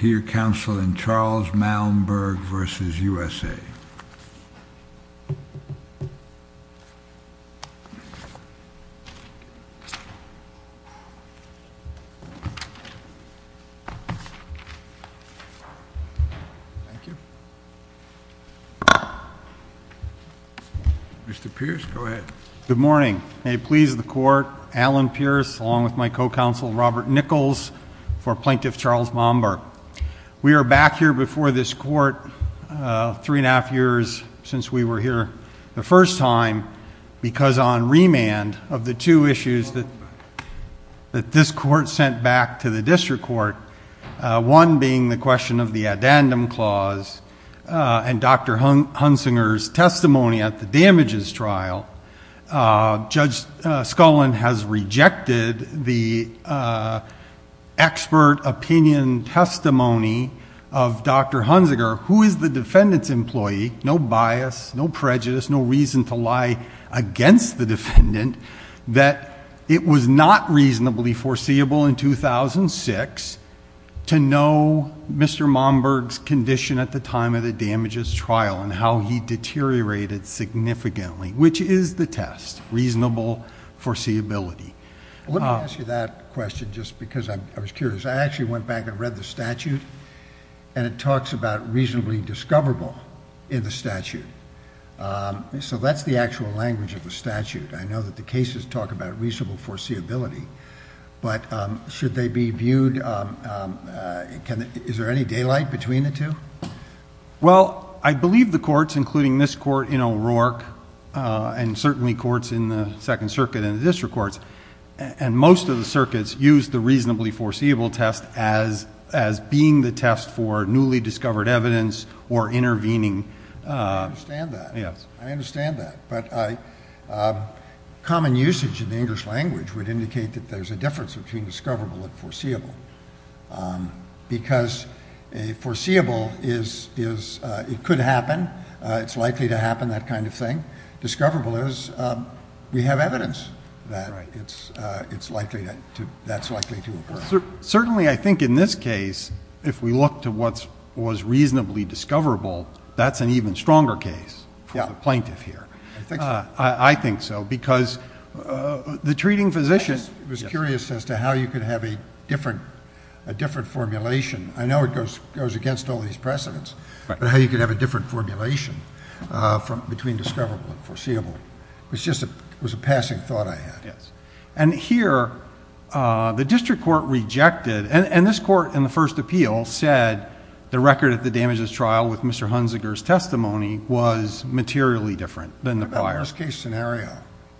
Thank you. Mr. Pierce, go ahead. Good morning. May it please the court, Alan Pierce along with my co-counsel Robert Nichols for Plaintiff Charles Momberg. We are back here before this court three and a half years since we were here the first time because on remand of the two issues that this court sent back to the district court, one being the question of the addendum clause and Dr. Hunsinger's testimony at the damages trial, Judge Scullin has rejected the expert opinion testimony of Dr. Hunsinger, who is the defendant's employee, no bias, no prejudice, no reason to lie against the defendant, that it was not reasonably foreseeable in 2006 to know Mr. Momberg's condition at the time of the damages trial and how he deteriorated significantly, which is the test, reasonable foreseeability. Let me ask you that question just because I was curious. I actually went back and read the statute and it talks about reasonably discoverable in the statute. So that's the actual language of the statute. I know that the cases talk about reasonable foreseeability, but should they be viewed... is there any daylight between the two? Well, I believe the courts, including this court in O'Rourke and certainly courts in the Second Circuit and the district courts, and most of the circuits use the reasonably foreseeable test as being the test for newly discovered evidence or intervening... I understand that. I understand that. But common usage in the English language would indicate that there's a difference between a reasonable and a discoverable. I'm not sure that that would happen, that kind of thing. Discoverable is we have evidence that it's likely to... that's likely to occur. Certainly I think in this case, if we look to what was reasonably discoverable, that's an even stronger case for the plaintiff here. I think so. I think so because the treating physician... I was curious as to how you could have a different formulation. I know it goes against all these precedents, but how you could have a different formulation between discoverable and foreseeable was a passing thought I had. And here, the district court rejected... and this court in the first appeal said the record at the damages trial with Mr. Hunziker's testimony was materially different than the prior. What about worst case scenario?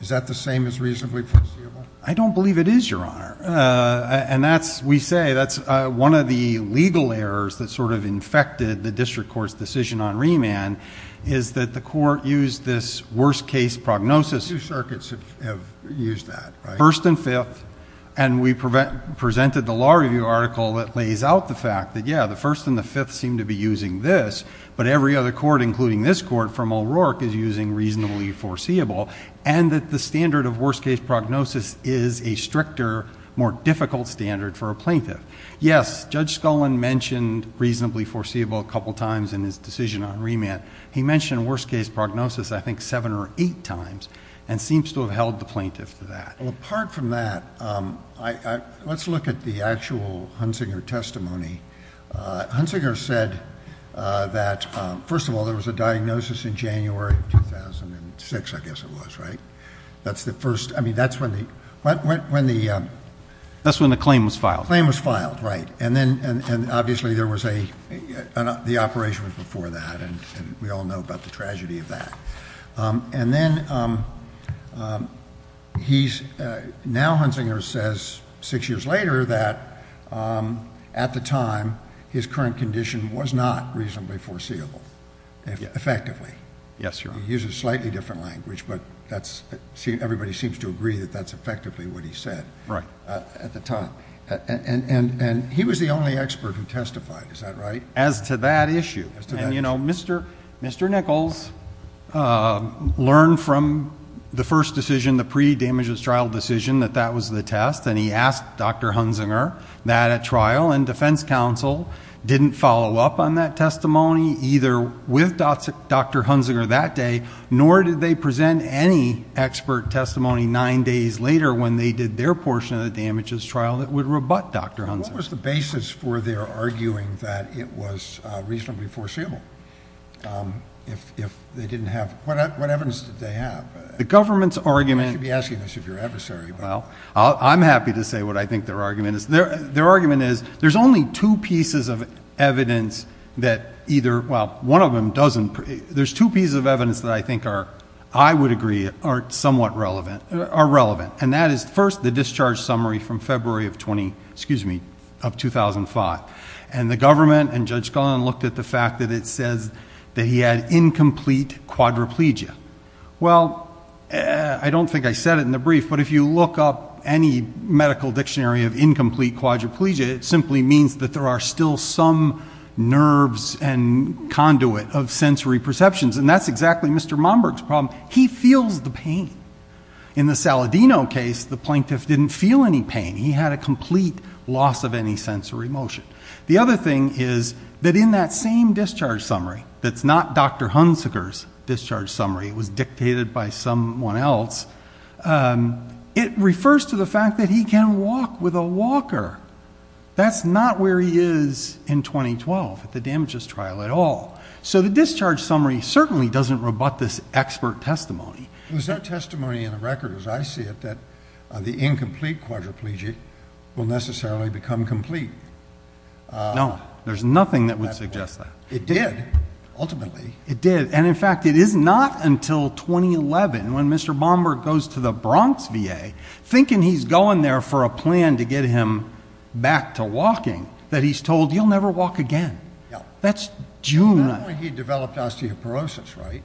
Is that the same as reasonably foreseeable? I don't believe it is, Your Honor. And that's, we say, that's one of the legal errors that sort of infected the district court's decision on remand is that the court used this worst case prognosis... Two circuits have used that, right? First and fifth, and we presented the law review article that lays out the fact that, yeah, the first and the fifth seem to be using this, but every other court, including this court from O'Rourke, is using reasonably foreseeable, and that the standard of worst case prognosis is a stricter, more difficult standard for a plaintiff. Yes, Judge Scullin mentioned reasonably foreseeable a couple of times in his decision on remand. He mentioned worst case prognosis, I think, seven or eight times, and seems to have held the plaintiff to that. Well, apart from that, let's look at the actual Hunziker testimony. Hunziker said that, first of all, there was a diagnosis in January of 2006, I guess it was, right? That's the first... I mean, that's when the... That's when the claim was filed. The claim was filed, right. And then, obviously, there was a... the operation was before that, and we all know about the tragedy of that. And then, he's... now, Hunziker says, six years later, that, at the time, his current condition was not reasonably foreseeable, effectively. Yes, Your Honor. He uses a slightly different language, but that's... everybody seems to agree that that's effectively what he said. At the time. And he was the only expert who testified, is that right? As to that issue. And, you know, Mr. Nichols learned from the first decision, the pre-damages trial decision, that that was the test, and he asked Dr. Hunziker that, at trial and defense counsel, didn't follow up on that testimony, either with Dr. Hunziker that day, nor did they present any expert testimony nine days later, when they did their portion of the damages trial, that would rebut Dr. Hunziker. What was the basis for their arguing that it was reasonably foreseeable? If they didn't have... what evidence did they have? The government's argument... You should be asking this of your adversary. Well, I'm happy to say what I think their argument is. Their argument is, there's only two pieces of evidence that either... well, one of them doesn't... there's two pieces of I would agree are somewhat relevant... are relevant. And that is, first, the discharge summary from February of 20... excuse me... of 2005. And the government and Judge Gunn looked at the fact that it says that he had incomplete quadriplegia. Well, I don't think I said it in the brief, but if you look up any medical dictionary of incomplete quadriplegia, it simply means that there are still some nerves and conduit of sensory perceptions. And that's exactly Mr. Momberg's problem. He feels the pain. In the Saladino case, the plaintiff didn't feel any pain. He had a complete loss of any sensory motion. The other thing is that in that same discharge summary, that's not Dr. Hunziker's discharge summary. It was dictated by someone else. It refers to the fact that he can walk with a walker. That's not where he is in 2012 at the damages trial at all. So the discharge summary certainly doesn't rebut this expert testimony. There's no testimony in the record, as I see it, that the incomplete quadriplegia will necessarily become complete. No, there's nothing that would suggest that. It did, ultimately. It did. And in fact, it is not until 2011 when Mr. Momberg goes to the Bronx VA thinking he's going there for a plan to get him back to walking that he's told, you'll never walk again. That's June. Not only he developed osteoporosis, right?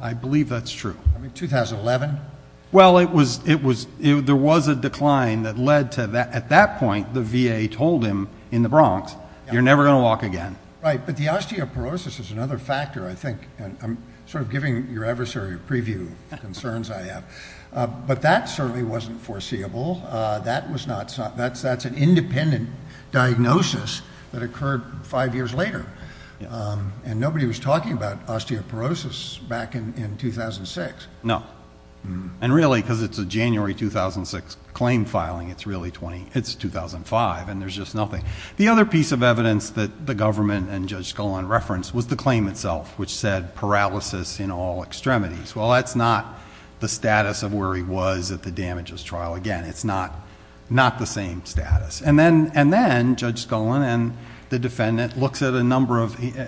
I believe that's true. I mean, 2011? Well, there was a decline that led to that. At that point, the VA told him in the Bronx, you're never going to walk again. Right. But the osteoporosis is another factor, I think. I'm sort of giving your adversary a foreseeable. That's an independent diagnosis that occurred five years later. And nobody was talking about osteoporosis back in 2006. No. And really, because it's a January 2006 claim filing, it's 2005, and there's just nothing. The other piece of evidence that the government and Judge Scullin referenced was the claim itself, which said paralysis in all extremities. Well, that's not the status of where he was at the damages trial. Again, it's not the same status. And then Judge Scullin and the defendant,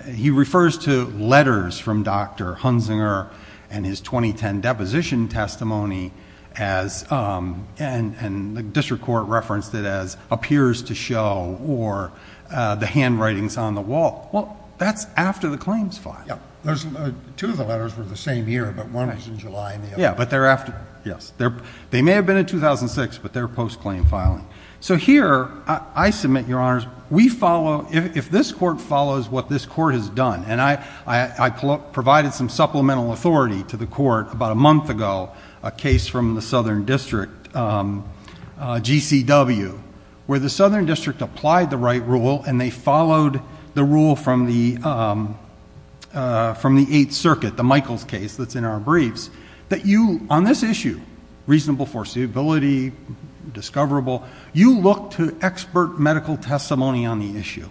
he refers to letters from Dr. Hunzinger and his 2010 deposition testimony, and the district court referenced it as appears to show, or the handwritings on the wall. Well, that's after the claims file. Yeah. Two of the letters were the same year, but one was in July and the other. Yes. They may have been in 2006, but they're post-claim filing. So here, I submit, Your Honors, we follow, if this court follows what this court has done, and I provided some supplemental authority to the court about a month ago, a case from the Southern District GCW, where the Southern District applied the right rule, and they followed the rule from the Eighth Circuit, the Michaels case that's in our briefs, that you, on this issue, reasonable foreseeability, discoverable, you look to expert medical testimony on the issue.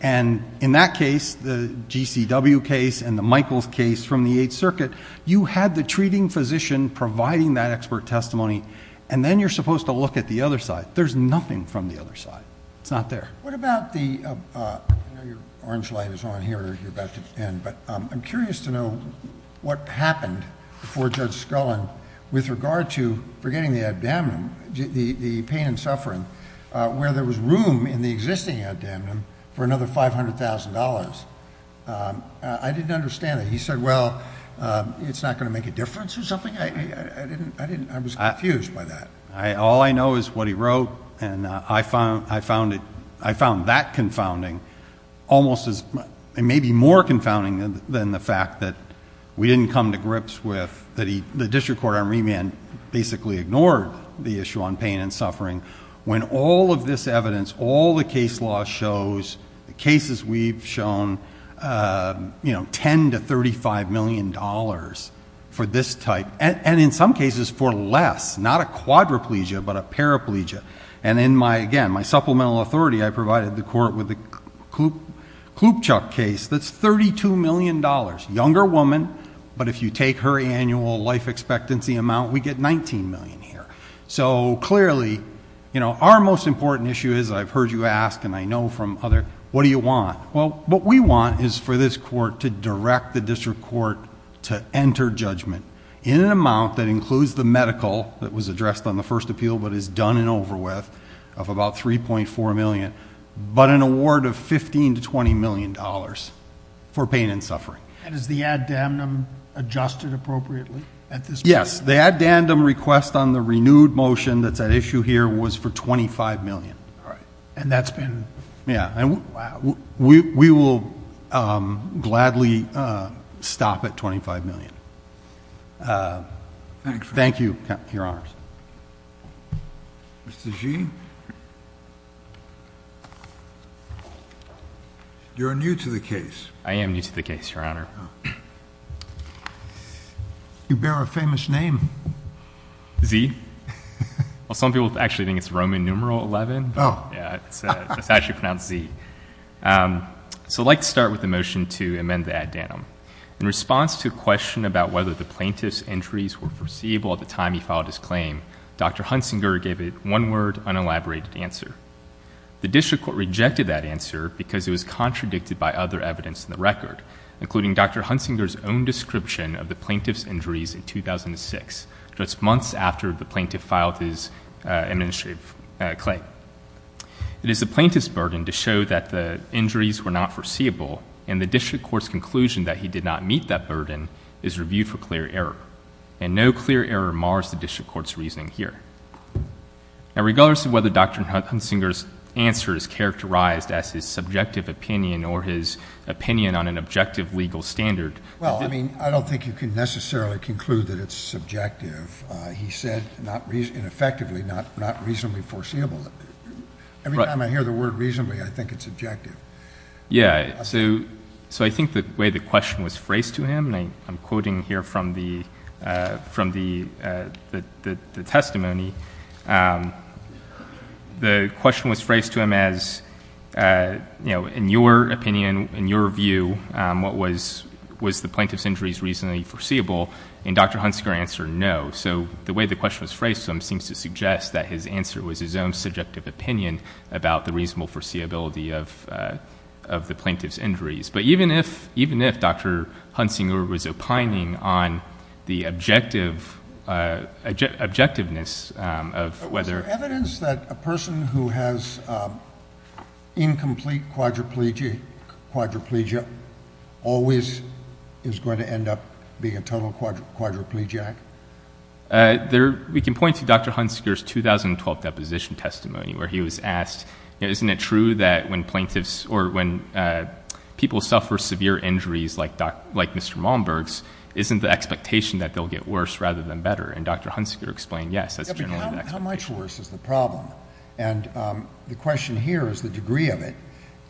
And in that case, the GCW case and the Michaels case from the Eighth Circuit, you had the treating physician providing that expert testimony, and then you're supposed to look at the other side. There's nothing from the other side. It's not there. What about the, I know your orange light is on here, you're about to end, but I'm curious to what happened before Judge Scullin, with regard to forgetting the pain and suffering, where there was room in the existing ad damnum for another $500,000. I didn't understand that. He said, well, it's not going to make a difference or something? I was confused by that. All I know is what he wrote, and I found that confounding, almost as, maybe more confounding than the fact that we didn't come to grips with, that the district court on remand basically ignored the issue on pain and suffering. When all of this evidence, all the case law shows, the cases we've shown, $10 to $35 million for this type, and in some cases for less, not a quadriplegia, but a paraplegia. And in my, again, my supplemental authority, I provided the court with the Klupchuk case that's $32 million. Younger woman, but if you take her annual life expectancy amount, we get $19 million here. So clearly, our most important issue is, I've heard you ask, and I know from other, what do you want? Well, what we want is for this court to direct the district court to enter judgment in an amount that includes the medical, that was addressed on the first appeal, but is done and over with, of about $3.4 million, but an award of $15 to $20 million for pain and suffering. And is the ad damnum adjusted appropriately at this point? Yes. The ad damnum request on the renewed motion that's at issue here was for $25 million. All right. And that's been, wow. Yeah. And we will gladly stop at $25 million. Thank you, Your Honors. Mr. Xi, you're new to the case. I am new to the case, Your Honor. You bear a famous name. Xi. Well, some people actually think it's Roman numeral 11, but yeah, it's actually pronounced Xi. So I'd like to start with the motion to amend the ad damnum. In response to a question about whether the plaintiff's injuries were foreseeable at the time he filed his claim, Dr. Hunsinger gave it one word, unelaborated answer. The district court rejected that answer because it was contradicted by other evidence in the record, including Dr. Hunsinger's own description of the plaintiff's injuries in 2006, just months after the plaintiff filed his administrative claim. It is the plaintiff's burden to show that the injuries were not foreseeable, and the district court's conclusion that he did not meet that burden is reviewed for clear error. And no clear error mars the district court's reasoning here. Now, regardless of whether Dr. Hunsinger's answer is characterized as his subjective opinion or his opinion on an objective legal standard— Well, I mean, I don't think you can necessarily conclude that it's subjective. He said, ineffectively, not reasonably foreseeable. Every time I hear the word reasonably, I think it's objective. Yeah. So I think the way the question was phrased to him, and I'm quoting here from the testimony, the question was phrased to him as, you know, in your opinion, in your view, was the plaintiff's injuries reasonably foreseeable? And Dr. Hunsinger answered no. So the way the question was phrased to him seems to suggest that his answer was his own subjective opinion about the reasonable foreseeability of the plaintiff's injuries. But even if Dr. Hunsinger was opining on the objectiveness of whether— Is there evidence that a person who has incomplete quadriplegia always is going to end up being a total quadriplegic? We can point to Dr. Hunsinger's 2012 deposition testimony where he was asked, isn't it true that when plaintiffs or when people suffer severe injuries like Mr. Malmberg's, isn't the expectation that they'll get worse rather than better? And Dr. Hunsinger explained, yes, that's generally the expectation. But how much worse is the problem? And the question here is the degree of it.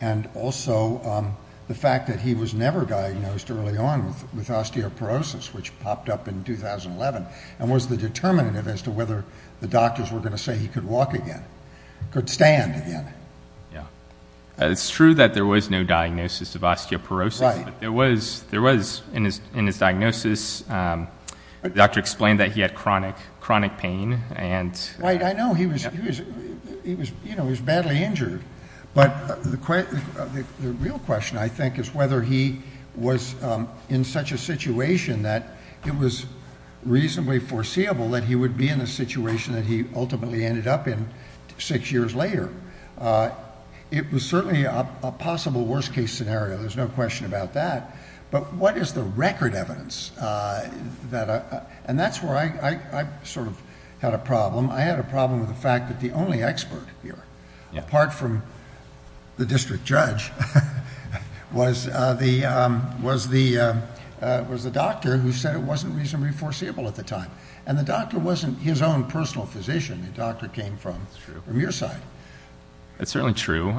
And also the fact that he was never diagnosed early on with osteoporosis, which popped up in 2011, and was the determinative as to whether the doctors were going to say he could walk again, could stand again. Yeah. It's true that there was no diagnosis of osteoporosis. Right. But there was, in his diagnosis, the doctor explained that he had chronic pain and— Right. I know. He was badly injured. But the real question, I think, is whether he was in such a situation that it was reasonably foreseeable that he would be in a situation that he ultimately ended up in six years later. It was certainly a possible worst-case scenario. There's no question about that. But what is the record evidence that... And that's where I sort of had a problem. I had a problem with the fact that the only expert here, apart from the district judge, was the doctor who said it wasn't reasonably foreseeable at the time. And the doctor wasn't his own personal physician. The doctor came from your side. That's true. That's certainly true.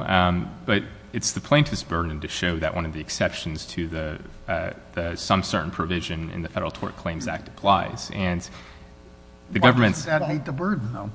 But it's the plaintiff's burden to show that one of the exceptions to the some certain provision in the Federal Tort Claims Act applies. And the government— Why doesn't that meet the burden, though?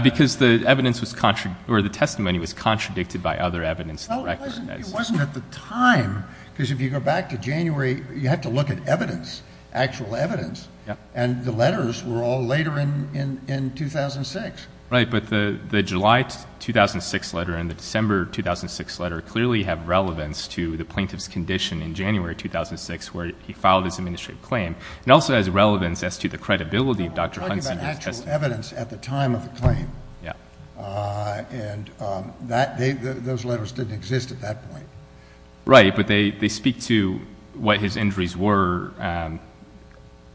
Because the evidence was—or the testimony was contradicted by other evidence in the record. It wasn't at the time, because if you go back to January, you have to look at evidence, actual evidence. And the letters were all later in 2006. Right. But the July 2006 letter and the December 2006 letter clearly have relevance to the plaintiff's condition in January 2006, where he filed his administrative claim. It also has relevance as to the credibility of Dr. Huntsinger's testimony. We're talking about actual evidence at the time of the claim. Yeah. And those letters didn't exist at that point. Right. But they speak to what his injuries were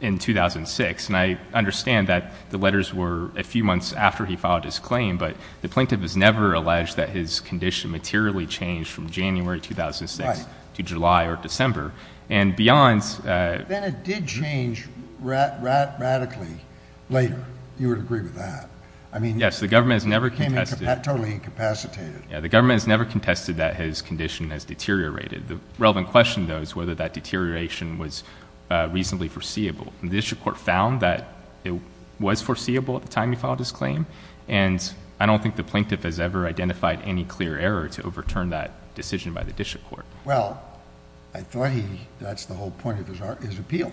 in 2006. And I understand that the letters were a few months after he filed his claim, but the plaintiff has never alleged that his condition materially changed from January 2006 to July or December. And beyond— Then it did change radically later. You would agree with that? I mean— Yes. The government has never contested— Totally incapacitated. Yeah. The government has never contested that his condition has deteriorated. The relevant question, though, is whether that deterioration was reasonably foreseeable. The district court found that it was foreseeable at the time he filed his claim, and I don't think the plaintiff has ever identified any clear error to overturn that decision by the district court. Well, I thought he—that's the whole point of his appeal.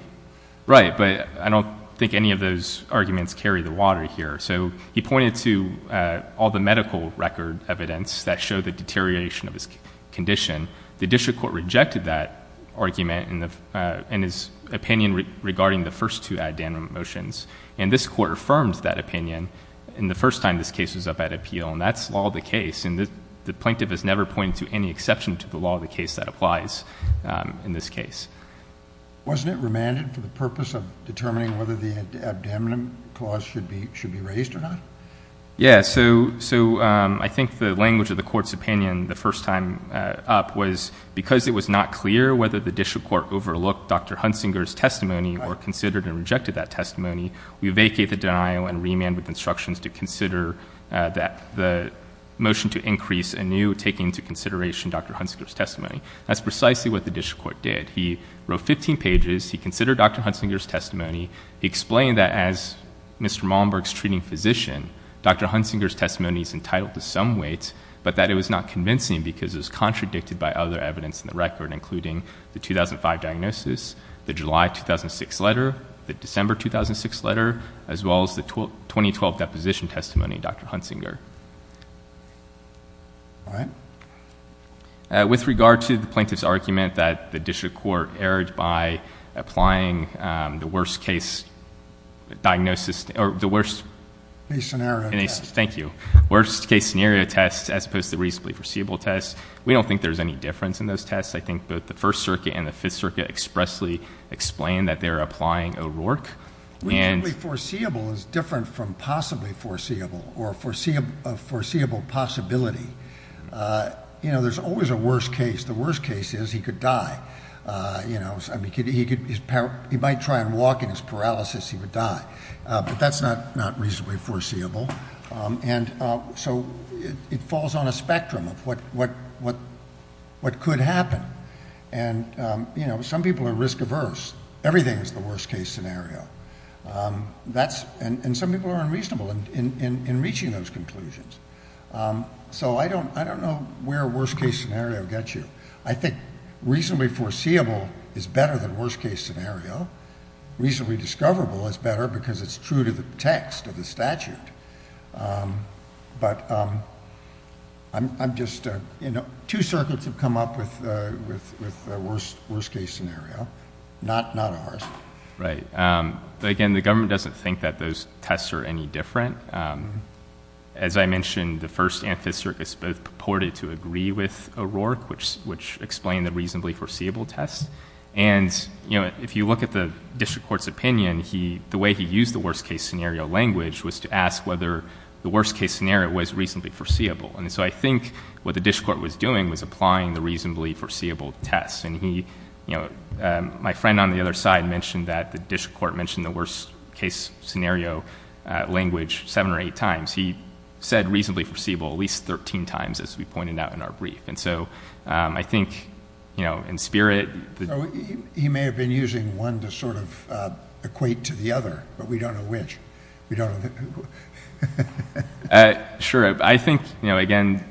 Right. But I don't think any of those arguments carry the water here. So, he pointed to all the medical record evidence that showed the deterioration of his condition. The district court rejected that argument in his opinion regarding the first two addendum motions. And this court affirmed that opinion in the first time this case was up at appeal, and that's law of the case. And the applies in this case. Wasn't it remanded for the purpose of determining whether the abdomen clause should be—should be raised or not? Yeah. So, I think the language of the court's opinion the first time up was, because it was not clear whether the district court overlooked Dr. Hunsinger's testimony or considered and rejected that testimony, we vacate the denial and remand with instructions to consider that—the motion to increase anew, taking into consideration Dr. Hunsinger's testimony. That's precisely what the district court did. He wrote 15 pages. He considered Dr. Hunsinger's testimony. He explained that as Mr. Malmberg's treating physician, Dr. Hunsinger's testimony is entitled to some weight, but that it was not convincing because it was contradicted by other evidence in the record, including the 2005 diagnosis, the July 2006 letter, the December 2006 letter, as well as the 2012 deposition testimony of Dr. Hunsinger. All right. With regard to the plaintiff's argument that the district court erred by applying the worst case diagnosis—or the worst— Case scenario test. Thank you. Worst case scenario test as opposed to reasonably foreseeable test. We don't think there's any difference in those tests. I think both the First Circuit and the District Court have honestly explained that they're applying O'Rourke. Reasonably foreseeable is different from possibly foreseeable or a foreseeable possibility. You know, there's always a worst case. The worst case is he could die. You know, he might try and walk in his paralysis. He would die. But that's not reasonably foreseeable. And so it falls on a spectrum of what could happen. And, you know, some people are risk averse. Everything is the worst case scenario. That's—and some people are unreasonable in reaching those conclusions. So I don't know where worst case scenario gets you. I think reasonably foreseeable is better than worst case scenario. Reasonably discoverable is better because it's true to the text of the statute. But I'm just—two circuits have come up with worst case scenario, not ours. Right. Again, the government doesn't think that those tests are any different. As I mentioned, the First and Fifth Circuit both purported to agree with O'Rourke, which explained the reasonably foreseeable test. And, you know, if you look at the District Court's opinion, the way he used the worst case scenario language was to ask whether the worst case scenario was reasonably foreseeable. And so I think what the District Court was doing was applying the reasonably foreseeable test. And he—you know, my friend on the other side mentioned that the District Court mentioned the worst case scenario language seven or eight times. He said reasonably foreseeable at least 13 times, as we pointed out in our brief. And so I think, you know, in spirit— He may have been using one to sort of equate to the other, but we don't know which. Sure. I think, you know, again,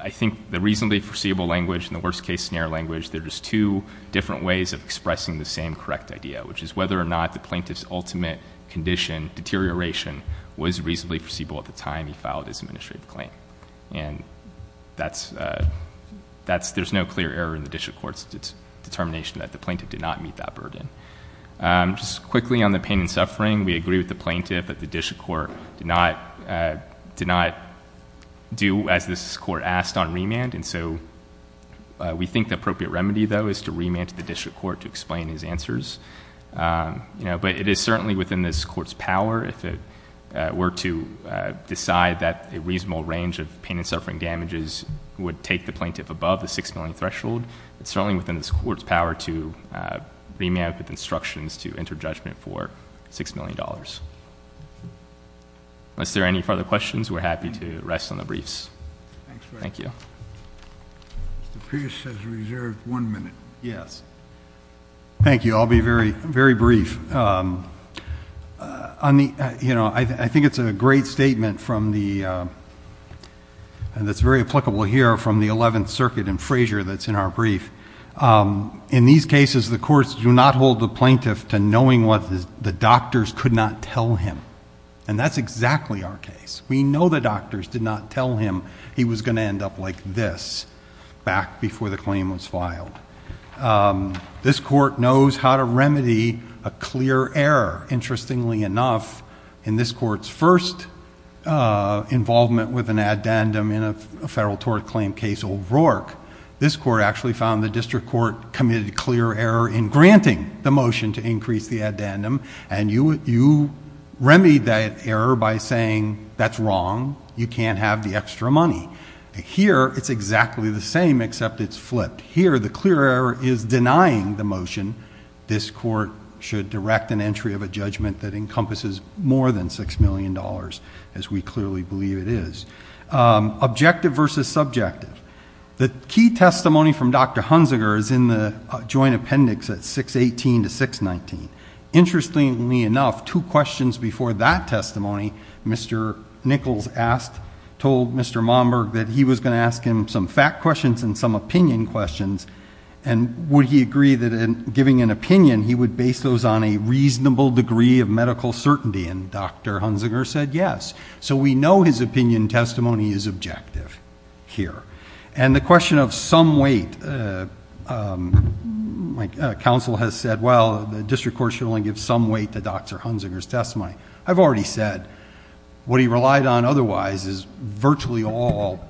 I think the reasonably foreseeable language and the worst case scenario language, there's two different ways of expressing the same correct idea, which is whether or not the plaintiff's ultimate condition, deterioration, was reasonably foreseeable at the time he filed his administrative claim. And that's—there's no clear error in the District Court's determination that the plaintiff did not meet that burden. Just quickly on the pain and suffering, we agree with the plaintiff that the District Court did not do as this Court asked on remand. And so we think the appropriate remedy, though, is to remand to the District Court to explain his answers. You know, but it is certainly within this Court's power if it were to decide that reasonable range of pain and suffering damages would take the plaintiff above the $6 million threshold. It's certainly within this Court's power to remand with instructions to enter judgment for $6 million. Unless there are any further questions, we're happy to rest on the briefs. Thank you. Mr. Pierce has reserved one minute. Yes. Thank you. I'll be very, very brief. On the—you know, I think it's a great statement from the—that's very applicable here—from the Eleventh Circuit and Frazier that's in our brief. In these cases, the courts do not hold the plaintiff to knowing what the doctors could not tell him. And that's exactly our case. We know the doctors did not tell him he was going to end up like this back before the claim was filed. Um, this Court knows how to remedy a clear error. Interestingly enough, in this Court's first involvement with an addendum in a federal tort claim case, Old Rourke, this Court actually found the district court committed a clear error in granting the motion to increase the addendum. And you—you remedied that error by saying, that's wrong. You can't have the extra money. Here, it's exactly the same, except it's flipped. Here, the clear error is denying the motion. This Court should direct an entry of a judgment that encompasses more than $6 million, as we clearly believe it is. Objective versus subjective. The key testimony from Dr. Hunziker is in the joint appendix at 618 to 619. Interestingly enough, two questions before that testimony, Mr. Nichols asked—told Mr. Momberg that he was going to ask him some fact questions and some opinion questions. And would he agree that in giving an opinion, he would base those on a reasonable degree of medical certainty? And Dr. Hunziker said yes. So we know his opinion testimony is objective here. And the question of some weight, uh, um, my, uh, counsel has said, well, the district court should only give some weight to Dr. Hunziker's testimony. I've already said what he relied on otherwise is virtually all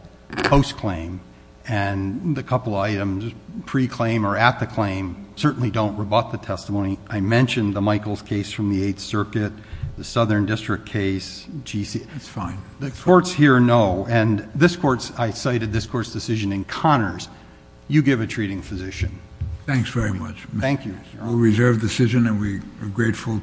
post-claim. And the couple items pre-claim or at the claim certainly don't rebut the testimony. I mentioned the Michaels case from the Eighth Circuit, the Southern District case, GC— That's fine. The courts here know. And this Court's—I cited this Court's decision in Connors. You give a treating physician. Thanks very much. Thank you. We'll reserve the decision, and we adjourn.